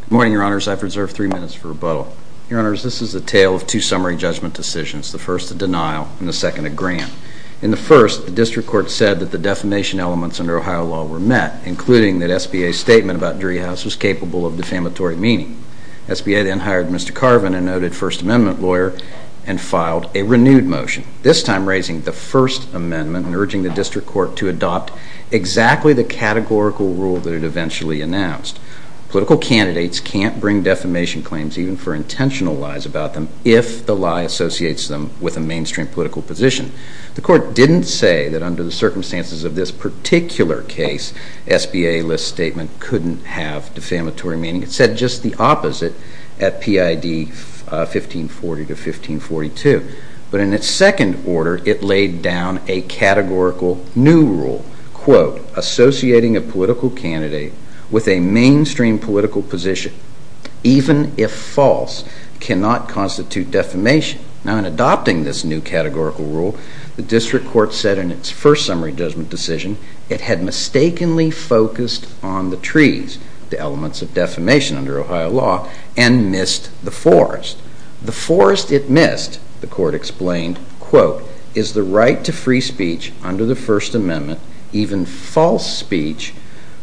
Good morning, your honors. I've reserved three minutes for rebuttal. Your honors, this is a tale of two summary judgment decisions, the first a denial and the second a grant. In the first, the district court said that the defamation elements under Ohio law were met, including that SBA's statement about Driehaus was capable of defamatory meaning. SBA then hired Mr. Carvin, a noted First Amendment lawyer, and filed a renewed motion, this time raising the First Amendment and urging the district court to adopt exactly the categorical rule that it eventually announced. Political candidates can't bring defamation claims even for intentional lies about them if the lie associates them with a mainstream political position. The court didn't say that under the circumstances of this particular case, SBA List's statement couldn't have defamatory meaning. It said just the opposite at PID 1540 to 1542. But in its second order, it laid down a categorical new rule, quote, associating a political candidate with a mainstream political position, even if false, cannot constitute defamation. Now, in adopting this new categorical rule, the district court said in its first summary judgment decision it had mistakenly focused on the trees, the elements of defamation under Ohio law, and missed the forest. The forest it missed, the court explained, quote, is the right to free speech under the First Amendment, even false speech,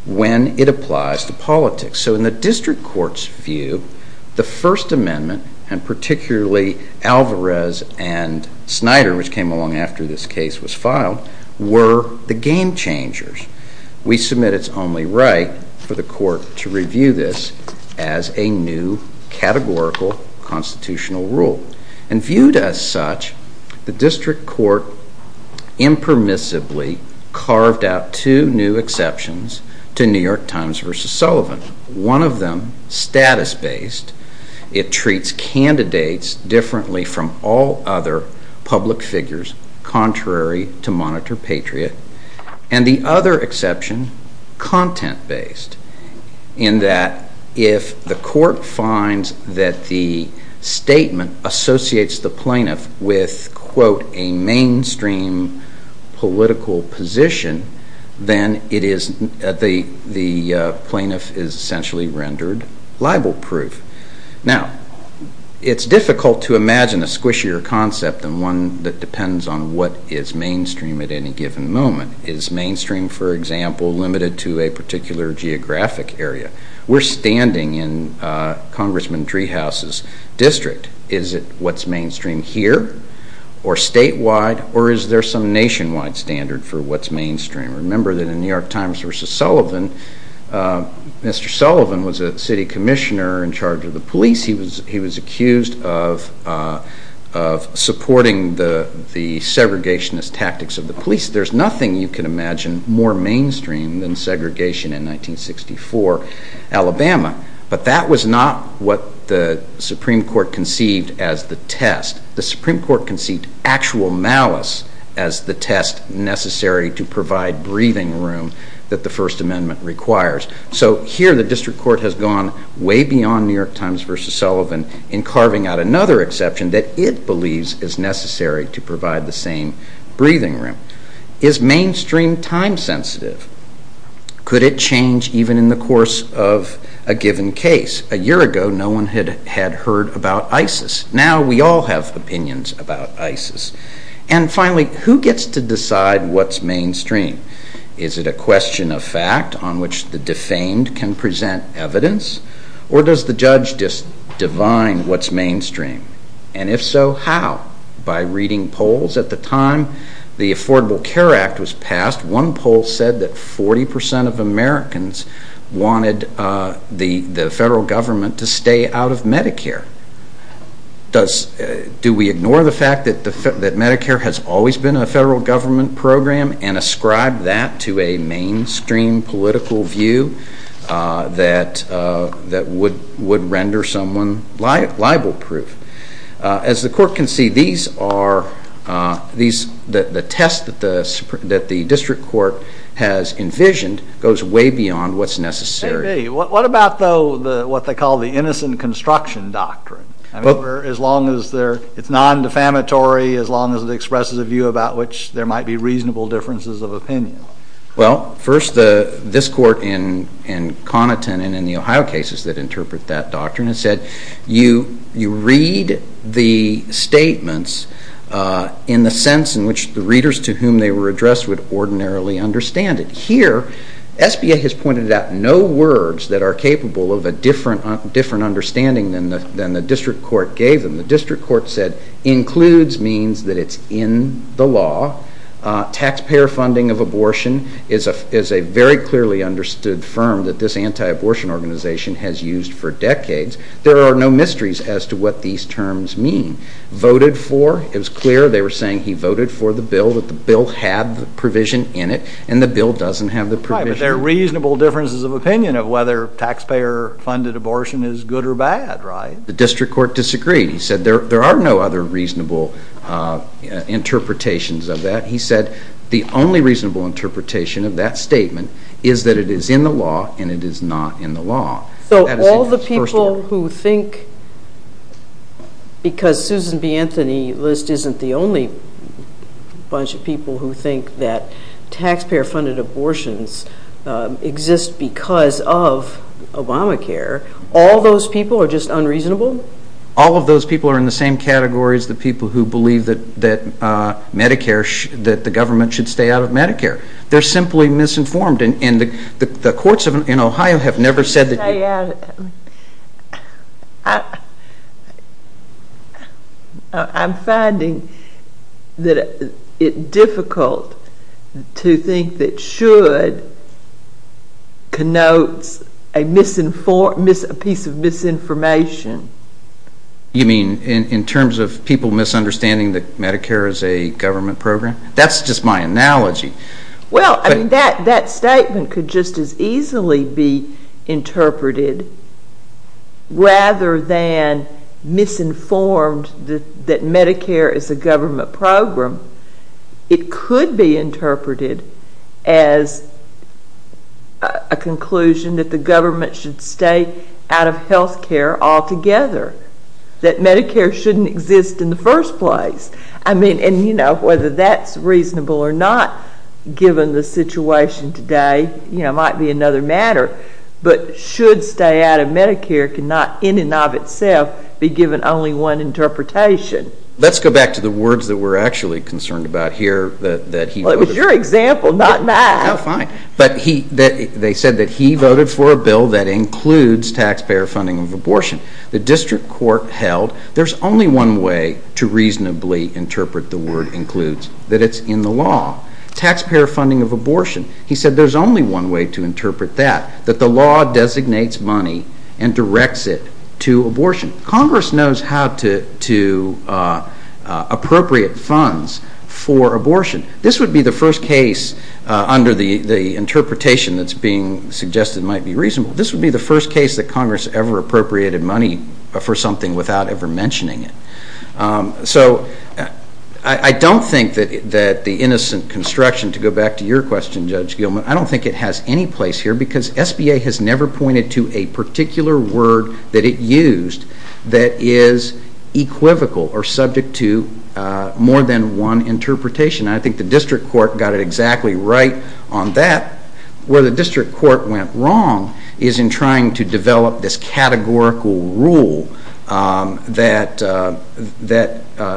when it applies to politics. So in the district court's view, the First Amendment, and particularly Alvarez and Snyder, which came along after this case was filed, were the game changers. We submit it's only right for the court to review this as a new categorical constitutional rule. And viewed as such, the district court impermissibly carved out two new exceptions to New York Times versus Sullivan. One of them, status-based, it treats candidates differently from all other public figures contrary to monitor patriot. And the other exception, content-based, in that if the court finds that the statement associates the plaintiff with, quote, a mainstream political position, then it is, the plaintiff is essentially rendered libel-proof. Now, it's difficult to imagine a squishier concept than one that depends on what is mainstream at any given moment. Is mainstream, for example, limited to a particular geographic area? We're standing in Congressman Treehouse's district. Is it what's mainstream here or statewide or is there some nationwide standard for what's mainstream? Remember that in New York Times versus Sullivan, Mr. Sullivan was a city commissioner in charge of the police. He was accused of supporting the segregationist tactics of the police. There's nothing you can imagine more mainstream than segregation in 1964 Alabama. But that was not what the Supreme Court conceived as the test. The Supreme Court conceived actual malice as the test necessary to provide breathing room that the First Amendment requires. So here the district court has gone way beyond New York Times versus Sullivan in carving out another exception that it believes is necessary to provide the same breathing room. Is mainstream time-sensitive? Could it change even in the course of a given case? A year ago, no one had heard about ISIS. Now we all have opinions about ISIS. And finally, who gets to decide what's mainstream? Is it a question of fact on which the defamed can present evidence or does the judge just divine what's mainstream? And if so, how? By reading polls at the time the Affordable Care Act was passed, one poll said that 40% of Americans wanted the federal government to stay out of Medicare. Do we ignore the fact that Medicare has always been a federal government program and ascribe that to a mainstream political view that would render someone libel-proof? As the court conceived, the test that the district court has envisioned goes way beyond what's necessary. Maybe. What about, though, what they call the innocent construction doctrine? As long as it's non-defamatory, as long as it expresses a view about which there might be reasonable differences of opinion? Well, first, this court in Connaughton and in the Ohio cases that interpret that doctrine has said you read the statements in the sense in which the readers to whom they were addressed would ordinarily understand it. Here, SBA has pointed out no words that are capable of a different understanding than the district court gave them. The district court said includes means that it's in the law. Taxpayer funding of abortion is a very clearly understood firm that this anti-abortion organization has used for decades. There are no mysteries as to what these terms mean. Voted for, it was clear they were saying he voted for the bill that the bill had the provision in it, and the bill doesn't have the provision. Right, but there are reasonable differences of opinion of whether taxpayer funded abortion is good or bad, right? The district court disagreed. He said there are no other reasonable interpretations of that. He said the only reasonable interpretation of that statement is that it is in the law and it is not in the law. So all the people who think, because Susan B. Anthony list isn't the only bunch of people who think that taxpayer funded abortions exist because of Obamacare, all those people are just unreasonable? All of those people are in the same category as the people who believe that the government should stay out of Medicare. They're simply misinformed, and the courts in Ohio have never said that... I'm finding that it difficult to think that should connotes a piece of misinformation. You mean in terms of people misunderstanding that Medicare is a government program? That's just my analogy. Well, that statement could just as easily be interpreted rather than misinformed that Medicare is a government program. It could be interpreted as a conclusion that the government should stay out of health care altogether, that Medicare shouldn't exist in the first place. I mean, whether that's reasonable or not, given the situation today, might be another matter. But should stay out of Medicare cannot in and of itself be given only one interpretation. Let's go back to the words that we're actually concerned about here that he voted for. Well, it was your example, not mine. No, fine. But they said that he voted for a bill that includes taxpayer funding of abortion. The district court held there's only one way to reasonably interpret the word includes, that it's in the law. Taxpayer funding of abortion. He said there's only one way to interpret that, that the law designates money and directs it to abortion. Congress knows how to appropriate funds for abortion. This would be the first case under the interpretation that's being suggested might be reasonable. This would be the first case that Congress ever appropriated money for something without ever mentioning it. So I don't think that the innocent construction, to go back to your question, Judge Gilman, I don't think it has any place here because SBA has never pointed to a particular word that it used that is equivocal or subject to more than one interpretation. I think the district court got it exactly right on that. Where the district court went wrong is in trying to develop this categorical rule that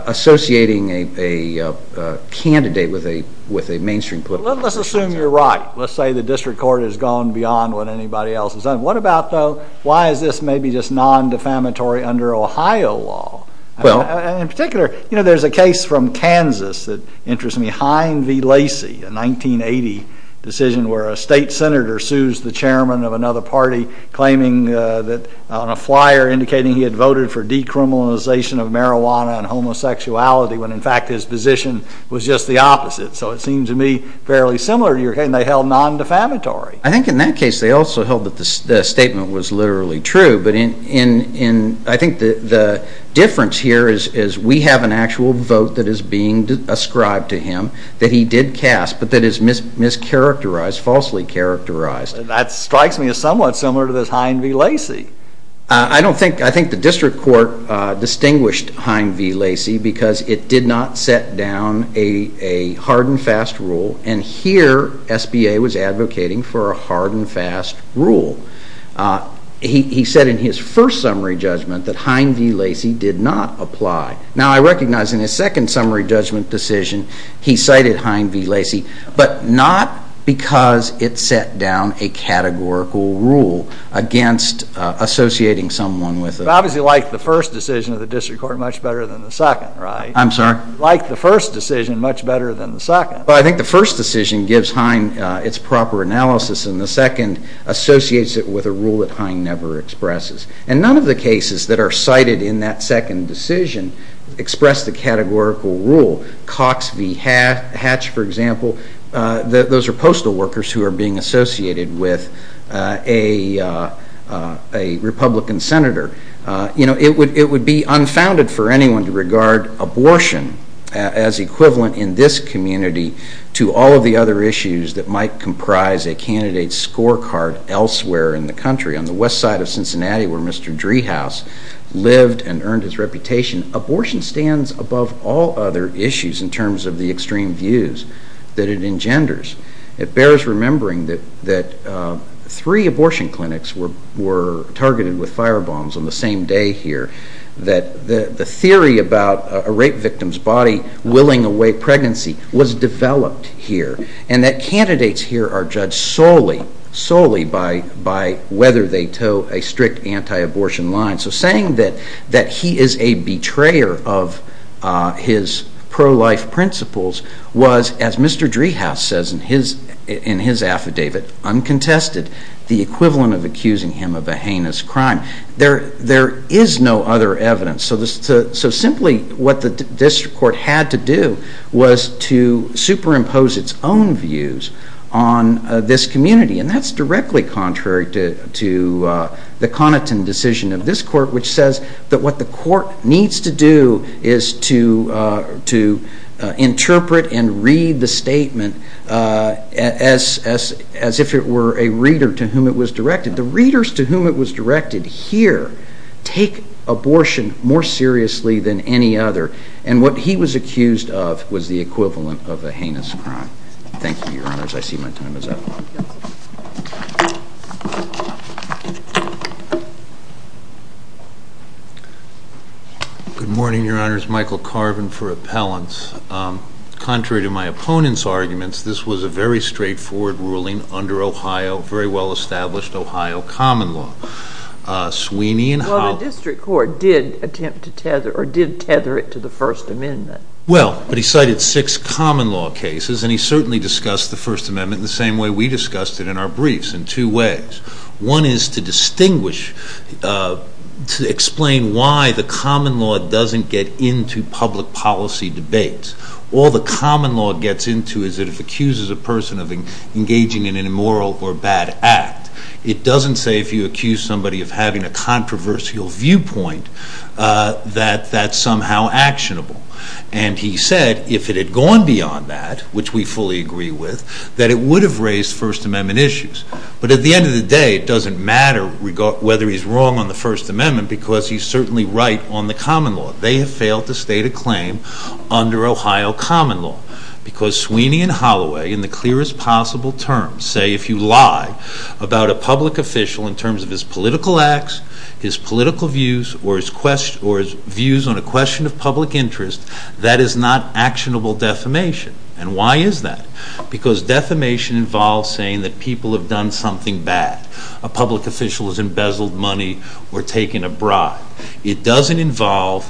associating a candidate with a mainstream political party. Well, let's assume you're right. Let's say the district court has gone beyond what anybody else has done. What about, though, why is this maybe just non-defamatory under Ohio law? Well In particular, there's a case from Kansas that interests me, Hine v. Lacey, a 1980 decision where a state senator sues the chairman of another party, claiming that on a flyer indicating he had voted for decriminalization of marijuana and homosexuality, when in fact his position was just the opposite. So it seems to me fairly similar to your case, and they held non-defamatory. I think in that case they also held that the statement was literally true, but I think the difference here is we have an actual vote that is being ascribed to him that he did not characterize, falsely characterized. That strikes me as somewhat similar to this Hine v. Lacey. I think the district court distinguished Hine v. Lacey because it did not set down a hard and fast rule, and here SBA was advocating for a hard and fast rule. He said in his first summary judgment that Hine v. Lacey did not apply. Now, I recognize in his second summary judgment decision, he cited Hine v. Lacey, but not because it set down a categorical rule against associating someone with a... It's obviously like the first decision of the district court much better than the second, right? I'm sorry? Like the first decision much better than the second. Well, I think the first decision gives Hine its proper analysis, and the second associates it with a rule that Hine never expresses. And none of the cases that are cited in that second decision express the categorical rule. Cox v. Hatch, for example, those are postal workers who are being associated with a Republican senator. It would be unfounded for anyone to regard abortion as equivalent in this community to all of the other issues that might comprise a candidate's scorecard elsewhere in the country. On the west side of Cincinnati where Mr. Driehaus lived and earned his reputation, abortion stands above all other issues in terms of the extreme views that it engenders. It bears remembering that three abortion clinics were targeted with firebombs on the same day here, that the theory about a rape victim's body willing away pregnancy was developed here, and that candidates here are judged solely by whether they toe a strict anti-abortion line. So saying that he is a betrayer of his pro-life principles was, as Mr. Driehaus says in his affidavit, uncontested, the equivalent of accusing him of a heinous crime. There is no other evidence. So simply what the district court had to do was to superimpose its own views on this community, and that's directly contrary to the Connaughton decision of this court, which says that what the court needs to do is to interpret and read the statement as if it were a reader to whom it was directed. The readers to whom it was directed here take abortion more seriously than any other, and what he was accused of was the equivalent of a heinous crime. Thank you, Your Honors. I see my time is up. Good morning, Your Honors. Michael Carvin for Appellants. Contrary to my opponent's arguments, this was a very straightforward ruling under Ohio, very well-established Ohio common law. Sweeney and Howell... Well, the district court did attempt to tether, or did tether it to the First Amendment. Well, but he cited six common law cases, and he certainly discussed the First Amendment the same way we discussed it in our briefs, in two ways. One is to distinguish, to explain why the common law doesn't get into public policy debates. All the common law gets into is that if it accuses a person of engaging in an immoral or bad act, it doesn't say if you accuse somebody of having a controversial viewpoint that that's somehow actionable. And he said if it had gone beyond that, which we fully agree with, that it would have raised First Amendment issues. But at the end of the day, it doesn't matter whether he's wrong on the First Amendment because he's certainly right on the common law. They have failed to state a claim under Ohio common law because Sweeney and Holloway, in the clearest possible terms, say if you lie about a public official in terms of his political acts, his political views, or his views on a question of public interest, that is not actionable defamation. And why is that? Because defamation involves saying that people have done something bad. A public official has embezzled money or taken a bribe. It doesn't involve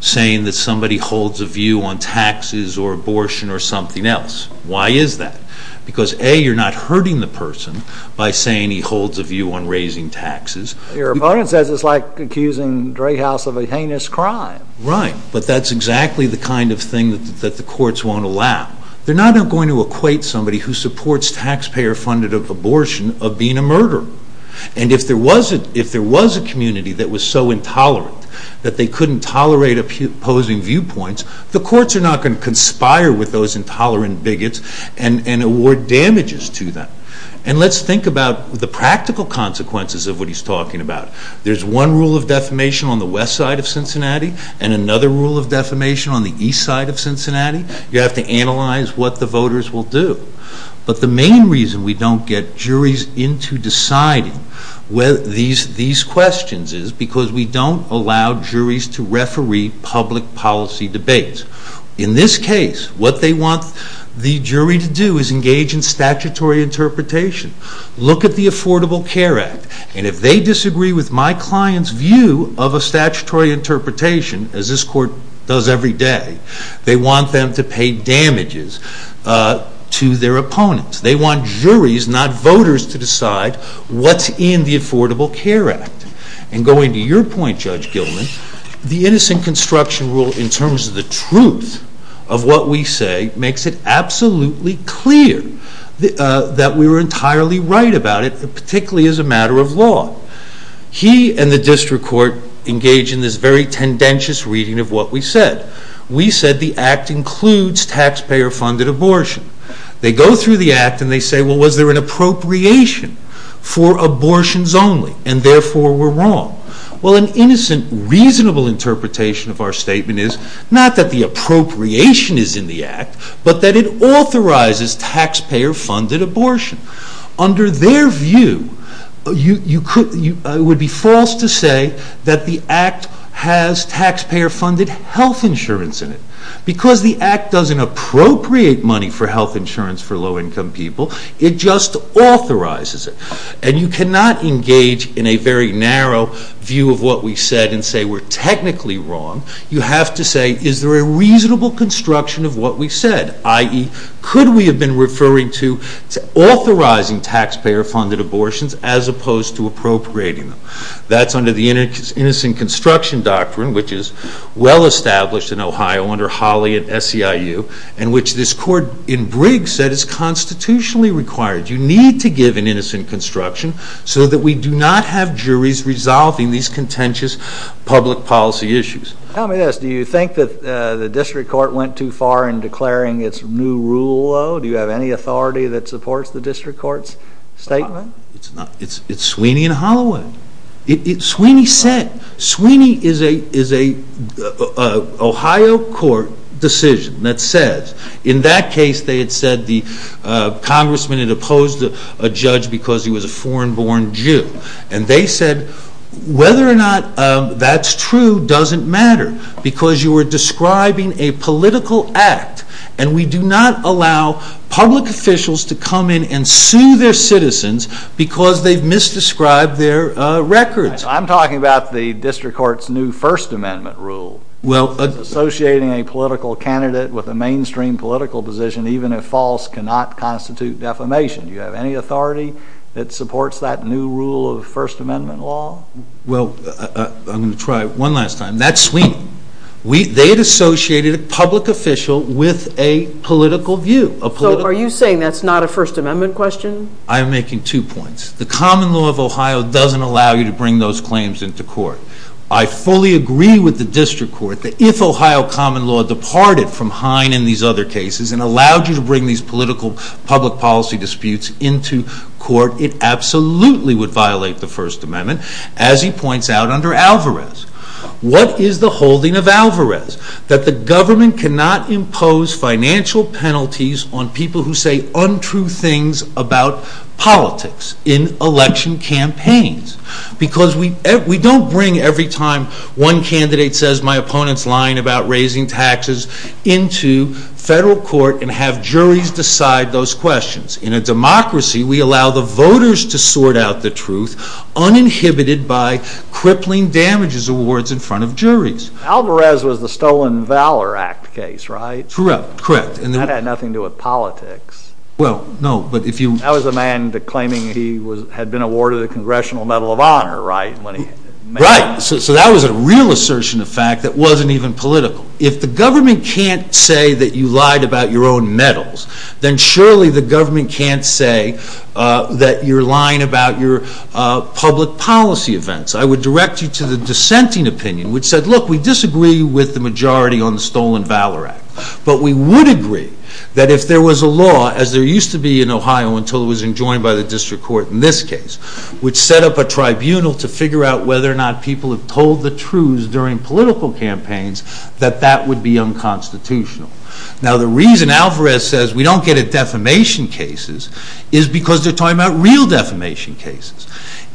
saying that somebody holds a view on taxes or abortion or something else. Why is that? Because A, you're not hurting the person by saying he holds a view on raising taxes. Your opponent says it's like accusing Drayhouse of a heinous crime. Right. But that's exactly the kind of thing that the courts won't allow. They're not going to equate somebody who supports taxpayer-funded abortion of being a murderer. And if there was a community that was so intolerant that they couldn't tolerate opposing viewpoints, the courts are not going to conspire with those intolerant bigots and award damages to them. And let's think about the practical consequences of what he's talking about. There's one rule of defamation on the west side of Cincinnati and another rule of defamation on the east side of Cincinnati. You have to analyze what the voters will do. But the main reason we don't get juries into deciding these questions is because we don't allow juries to referee public policy debates. In this case, what they want the jury to do is engage in statutory interpretation. Look at the Affordable Care Act. And if they disagree with my client's view of a statutory interpretation, as this court does every day, they want them to pay damages to their opponents. They want juries, not voters, to decide what's in the Affordable Care Act. And going to your point, Judge Gilman, the innocent construction rule in terms of the truth of what we say makes it absolutely clear that we were entirely right about it, particularly as a matter of law. He and the district court engage in this very tendentious reading of what we said. We said the Act includes taxpayer-funded abortion. They go through the Act and they say, well, was there an appropriation for abortions only, and therefore we're wrong? Well, an innocent, reasonable interpretation of our statement is not that the appropriation is in the Act, but that it authorizes taxpayer-funded abortion. Under their view, it would be false to say that the Act has taxpayer-funded health insurance in it. Because the Act doesn't appropriate money for health insurance for low-income people, it just authorizes it. And you cannot engage in a very narrow view of what we said and say we're technically wrong. You have to say, is there a reasonable construction of what we said, i.e., could we have been referring to authorizing taxpayer-funded abortions as opposed to appropriating them? That's under the Innocent Construction Doctrine, which is well-established in Ohio under Holly at SEIU, and which this court in Briggs said is constitutionally required. You need to give an innocent construction so that we do not have juries resolving these contentious public policy issues. Tell me this, do you think that the district court went too far in declaring its new rule low? Do you have any authority that supports the district court's statement? It's Sweeney and Holloway. Sweeney said, Sweeney is an Ohio court decision that says, in that case they had said the congressman had opposed a judge because he was a foreign-born Jew. And they said, whether or not that's true doesn't matter, because you were describing a political act, and we do not allow public officials to come in and sue their citizens because they've misdescribed their records. I'm talking about the district court's new First Amendment rule, associating a political candidate with a mainstream political position, even if false, cannot constitute defamation. Do you have any authority that supports that new rule of First Amendment law? Well, I'm going to try one last time. That's Sweeney. They had associated a public official with a political view. Are you saying that's not a First Amendment question? I am making two points. The common law of Ohio doesn't allow you to bring those claims into court. I fully agree with the district court that if Ohio common law departed from Hine and these other cases and allowed you to bring these political public policy disputes into court, it absolutely would violate the First Amendment, as he points out under Alvarez. What is the holding of Alvarez? That the government cannot impose financial penalties on people who say untrue things about politics in election campaigns, because we don't bring every time one candidate says my opponent's lying about raising taxes into federal court and have democracy, we allow the voters to sort out the truth uninhibited by crippling damages awards in front of juries. Alvarez was the Stolen Valor Act case, right? Correct. That had nothing to do with politics. Well, no, but if you... That was a man claiming he had been awarded a Congressional Medal of Honor, right? Right. So that was a real assertion of fact that wasn't even political. If the government can't say that you lied about your own medals, then surely the government can't say that you're lying about your public policy events. I would direct you to the dissenting opinion, which said, look, we disagree with the majority on the Stolen Valor Act, but we would agree that if there was a law, as there used to be in Ohio until it was enjoined by the district court in this case, which set up a tribunal to figure out whether or not people have told the truths during political campaigns, that that would be unconstitutional. Now the reason Alvarez says we don't get at defamation cases is because they're talking about real defamation cases.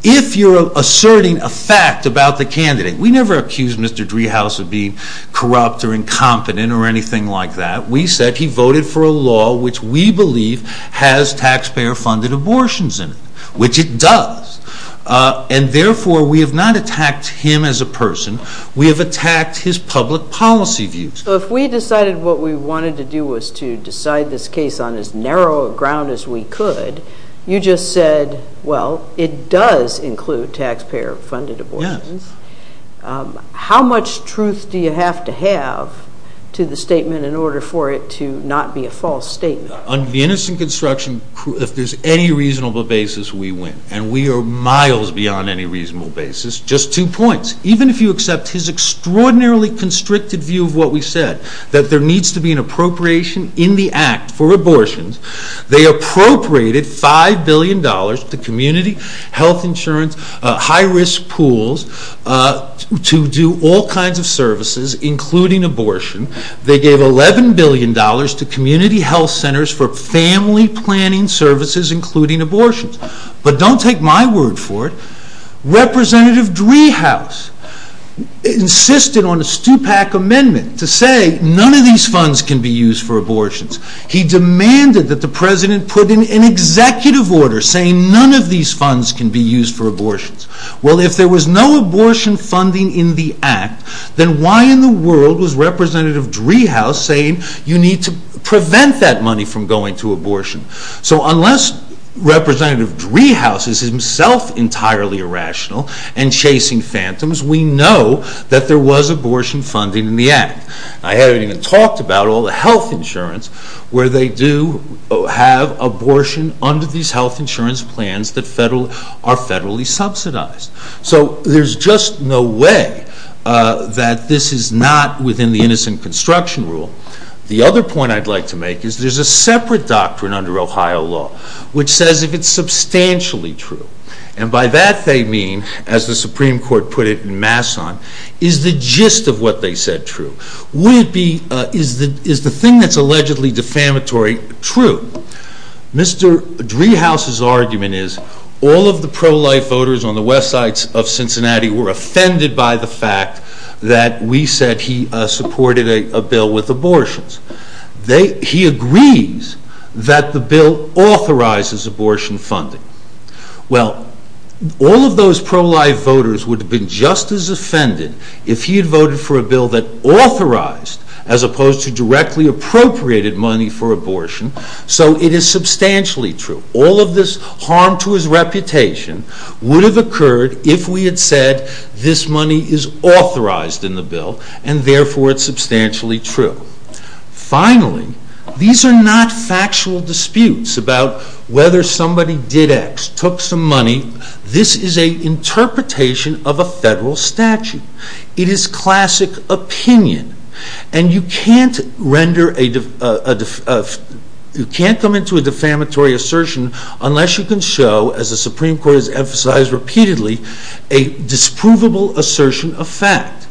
If you're asserting a fact about the candidate, we never accused Mr. Driehaus of being corrupt or incompetent or anything like that. We said he voted for a law which we believe has taxpayer-funded abortions in it, which it does, and therefore we have not attacked him as a person. We have attacked his public policy views. So if we decided what we wanted to do was to decide this case on as narrow a ground as we could, you just said, well, it does include taxpayer-funded abortions. How much truth do you have to have to the statement in order for it to not be a false statement? On the innocent construction, if there's any reasonable basis, we win, and we are miles beyond any reasonable basis, just two points. Even if you accept his extraordinarily constricted view of what we said, that there needs to be an appropriation in the Act for abortions, they appropriated $5 billion to community health insurance, high-risk pools to do all kinds of services, including abortion. They gave $11 billion to community health centers for family planning services, including abortions. But don't take my word for it. Representative Driehaus insisted on a Stupak amendment to say none of these funds can be used for abortions. He demanded that the President put in an executive order saying none of these funds can be used for abortions. Well, if there was no abortion funding in the Act, then why in the world was Representative Driehaus saying you need to prevent that money from going to abortion? So unless Representative Driehaus is himself entirely irrational and chasing phantoms, we know that there was abortion funding in the Act. I haven't even talked about all the health insurance where they do have abortion under these health insurance plans that are federally subsidized. So there's just no way that this is not within the Innocent Construction Rule. The other point I'd like to make is there's a separate doctrine under Ohio law which says if it's substantially true, and by that they mean, as the Supreme Court put it in Masson, is the gist of what they said true? Would it be, is the thing that's allegedly defamatory true? Mr. Driehaus's argument is all of the pro-life voters on the West Sides of Cincinnati were offended by the fact that we said he supported a bill with abortions. He agrees that the bill authorizes abortion funding. Well, all of those pro-life voters would have been just as offended if he had voted for a bill that authorized, as opposed to directly appropriated money for abortion, so it is substantially true. All of this harm to his reputation would have occurred if we had said this money is authorized in the bill and therefore it's substantially true. Finally, these are not factual disputes about whether somebody did X, took some money. This is an interpretation of a federal statute. It is classic opinion, and you can't render a, you can't come into a defamatory assertion unless you can show, as the Supreme Court has emphasized repeatedly, a disprovable assertion of fact.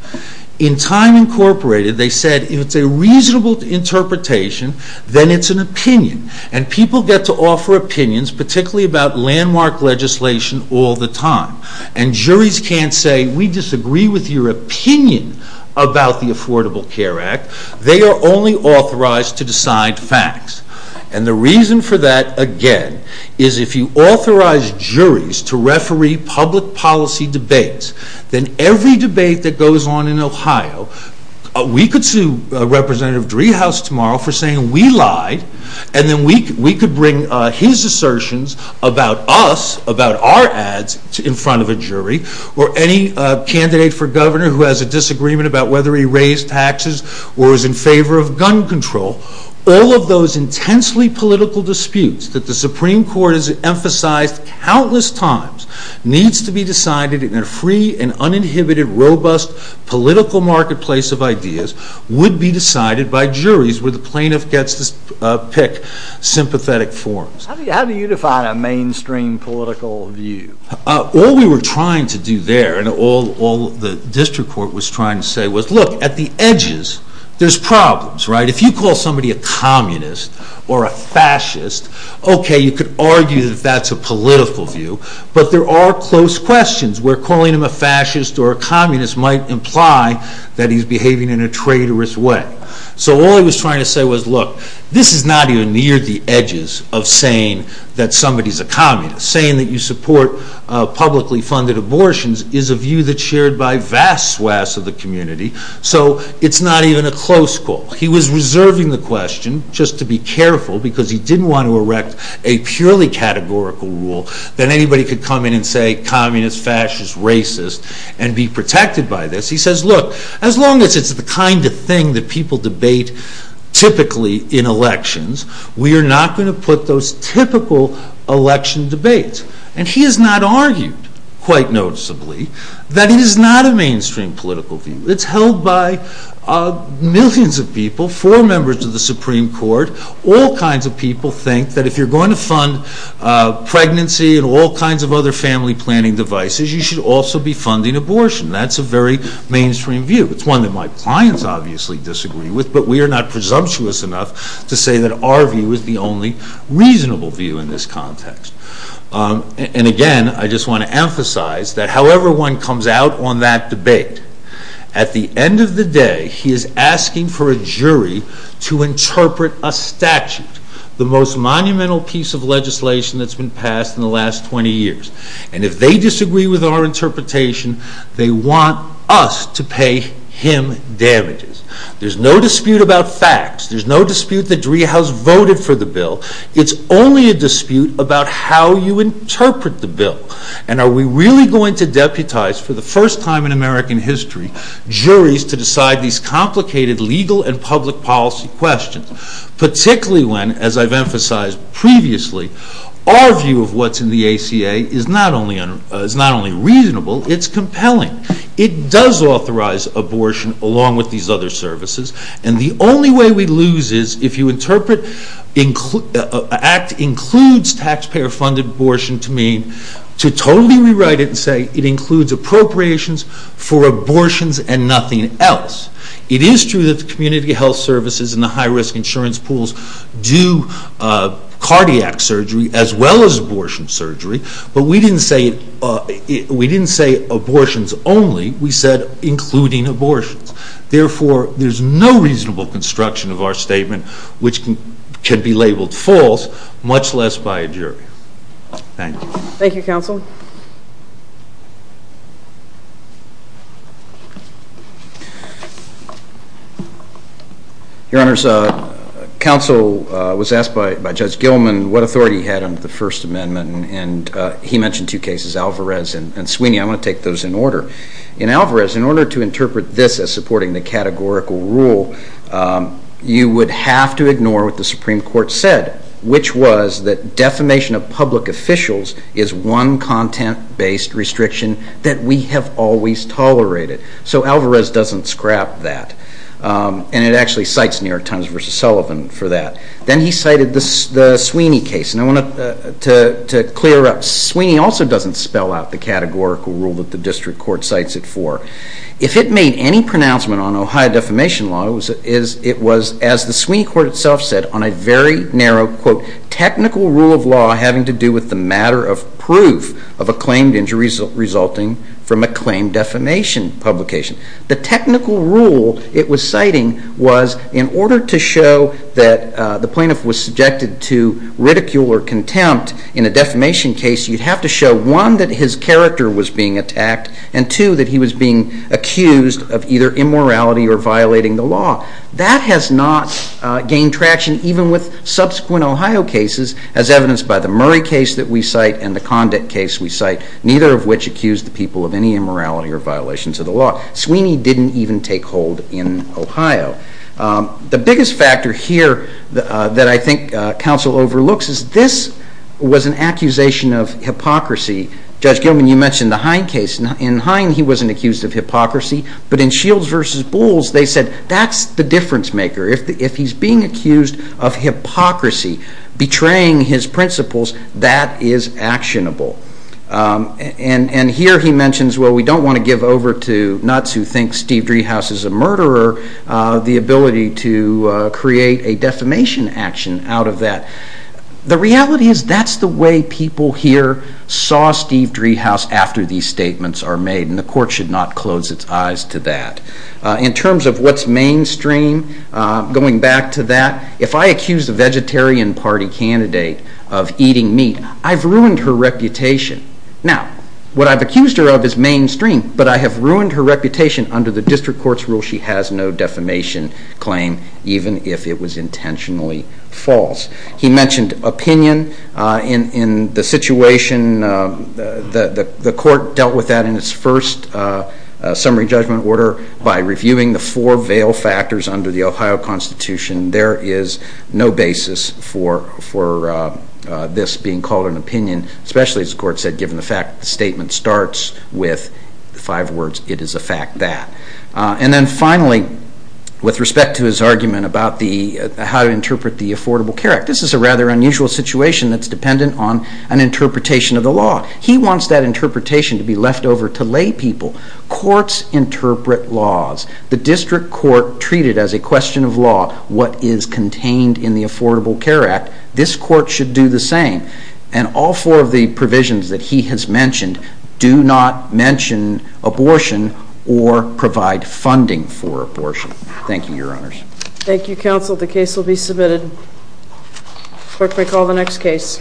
In Time, Incorporated, they said if it's a reasonable interpretation, then it's an opinion, and people get to offer opinions, particularly about landmark legislation, all the time. And juries can't say, we disagree with your opinion about the Affordable Care Act. They are only authorized to decide facts. And the reason for that, again, is if you authorize juries to referee public policy debates, then every debate that goes on in Ohio, we could sue Representative Driehaus tomorrow for saying we lied, and then we could bring his assertions about us, about our ads, in front of a jury, or any candidate for governor who has a disagreement about whether he raised taxes or is in favor of gun control. All of those intensely political disputes that the Supreme Court has emphasized countless times needs to be decided in a free and uninhibited, robust political marketplace of ideas, would be decided by juries, where the plaintiff gets to pick sympathetic forms. How do you define a mainstream political view? All we were trying to do there, and all the district court was trying to say was, look, at the edges, there's problems, right? If you call somebody a communist or a fascist, okay, you could argue that that's a political view, but there are close questions where calling him a fascist or a communist might imply that he's behaving in a traitorous way. So all he was trying to say was, look, this is not even near the edges of saying that somebody's a communist. Saying that you support publicly funded abortions is a view that's shared by vast swaths of the community, so it's not even a close call. He was reserving the question, just to be careful, because he didn't want to erect a purely categorical rule that anybody could come in and say, communist, fascist, racist, and be protected by this. He says, look, as long as it's the kind of thing that people debate typically in elections, we are not going to put those typical election debates. And he has not argued, quite noticeably, that it is not a mainstream political view. It's held by millions of people, four members of the Supreme Court. All kinds of people think that if you're going to fund pregnancy and all kinds of other family planning devices, you should also be funding abortion. That's a very mainstream view. It's one that my clients obviously disagree with, but we are not presumptuous enough to say that our view is the only reasonable view in this context. And again, I just want to emphasize that however one comes out on that debate, at the end of a jury to interpret a statute, the most monumental piece of legislation that's been passed in the last 20 years. And if they disagree with our interpretation, they want us to pay him damages. There's no dispute about facts. There's no dispute that Driehaus voted for the bill. It's only a dispute about how you interpret the bill. And are we really going to deputize, for the first time in American history, juries to decide these complicated legal and public policy questions? Particularly when, as I've emphasized previously, our view of what's in the ACA is not only reasonable, it's compelling. It does authorize abortion along with these other services. And the only way we lose is if you interpret an act includes taxpayer funded abortion to mean to totally rewrite it and say it includes appropriations for abortions and nothing else. It is true that the community health services and the high risk insurance pools do cardiac surgery as well as abortion surgery, but we didn't say abortions only. We said including abortions. Therefore, there's no reasonable construction of our statement, which can be labeled false, much less by a jury. Thank you. Thank you, Counsel. Your Honors, Counsel was asked by Judge Gilman what authority he had under the First Amendment and he mentioned two cases, Alvarez and Sweeney. I want to take those in order. In Alvarez, in order to interpret this as supporting the categorical rule, you would have to ignore what the Supreme Court said, which was that defamation of public officials is one content-based restriction that we have always tolerated. So Alvarez doesn't scrap that, and it actually cites New York Times v. Sullivan for that. Then he cited the Sweeney case, and I want to clear up, Sweeney also doesn't spell out the categorical rule that the district court cites it for. If it made any pronouncement on Ohio defamation law, it was, as the Sweeney court itself said, on a very narrow, quote, technical rule of law having to do with the matter of proof of a claimed injury resulting from a claimed defamation publication. The technical rule it was citing was in order to show that the plaintiff was subjected to ridicule or contempt in a defamation case, you'd have to show, one, that his character was being attacked, and two, that he was being accused of either immorality or violating the law. That has not gained traction even with subsequent Ohio cases, as evidenced by the Murray case that we cite and the Condit case we cite, neither of which accused the people of any immorality or violations of the law. Sweeney didn't even take hold in Ohio. The biggest factor here that I think counsel overlooks is this was an accusation of hypocrisy. Judge Gilman, you mentioned the Hine case. In Hine, he wasn't accused of hypocrisy, but in Shields v. Bowles, they said that's the difference maker. If he's being accused of hypocrisy, betraying his principles, that is actionable. And here he mentions, well, we don't want to give over to nuts who think Steve Dreehouse is a murderer the ability to create a defamation action out of that. The reality is that's the way people here saw Steve Dreehouse after these statements are made, and the court should not close its eyes to that. In terms of what's mainstream, going back to that, if I accuse a vegetarian party candidate of eating meat, I've ruined her reputation. Now, what I've accused her of is mainstream, but I have ruined her reputation under the district court's rule she has no defamation claim, even if it was intentionally false. He mentioned opinion in the situation, the court dealt with that in its first summary judgment order by reviewing the four veil factors under the Ohio Constitution. There is no basis for this being called an opinion, especially, as the court said, given the fact the statement starts with five words, it is a fact that. And then finally, with respect to his argument about how to interpret the Affordable Care Act, this is a rather unusual situation that's dependent on an interpretation of the law. He wants that interpretation to be left over to lay people. Courts interpret laws. The district court treated as a question of law what is contained in the Affordable Care Act. This court should do the same. And all four of the provisions that he has mentioned do not mention abortion or provide funding for abortion. Thank you, Your Honors. Thank you, Counsel. The case will be submitted. Clerk may call the next case.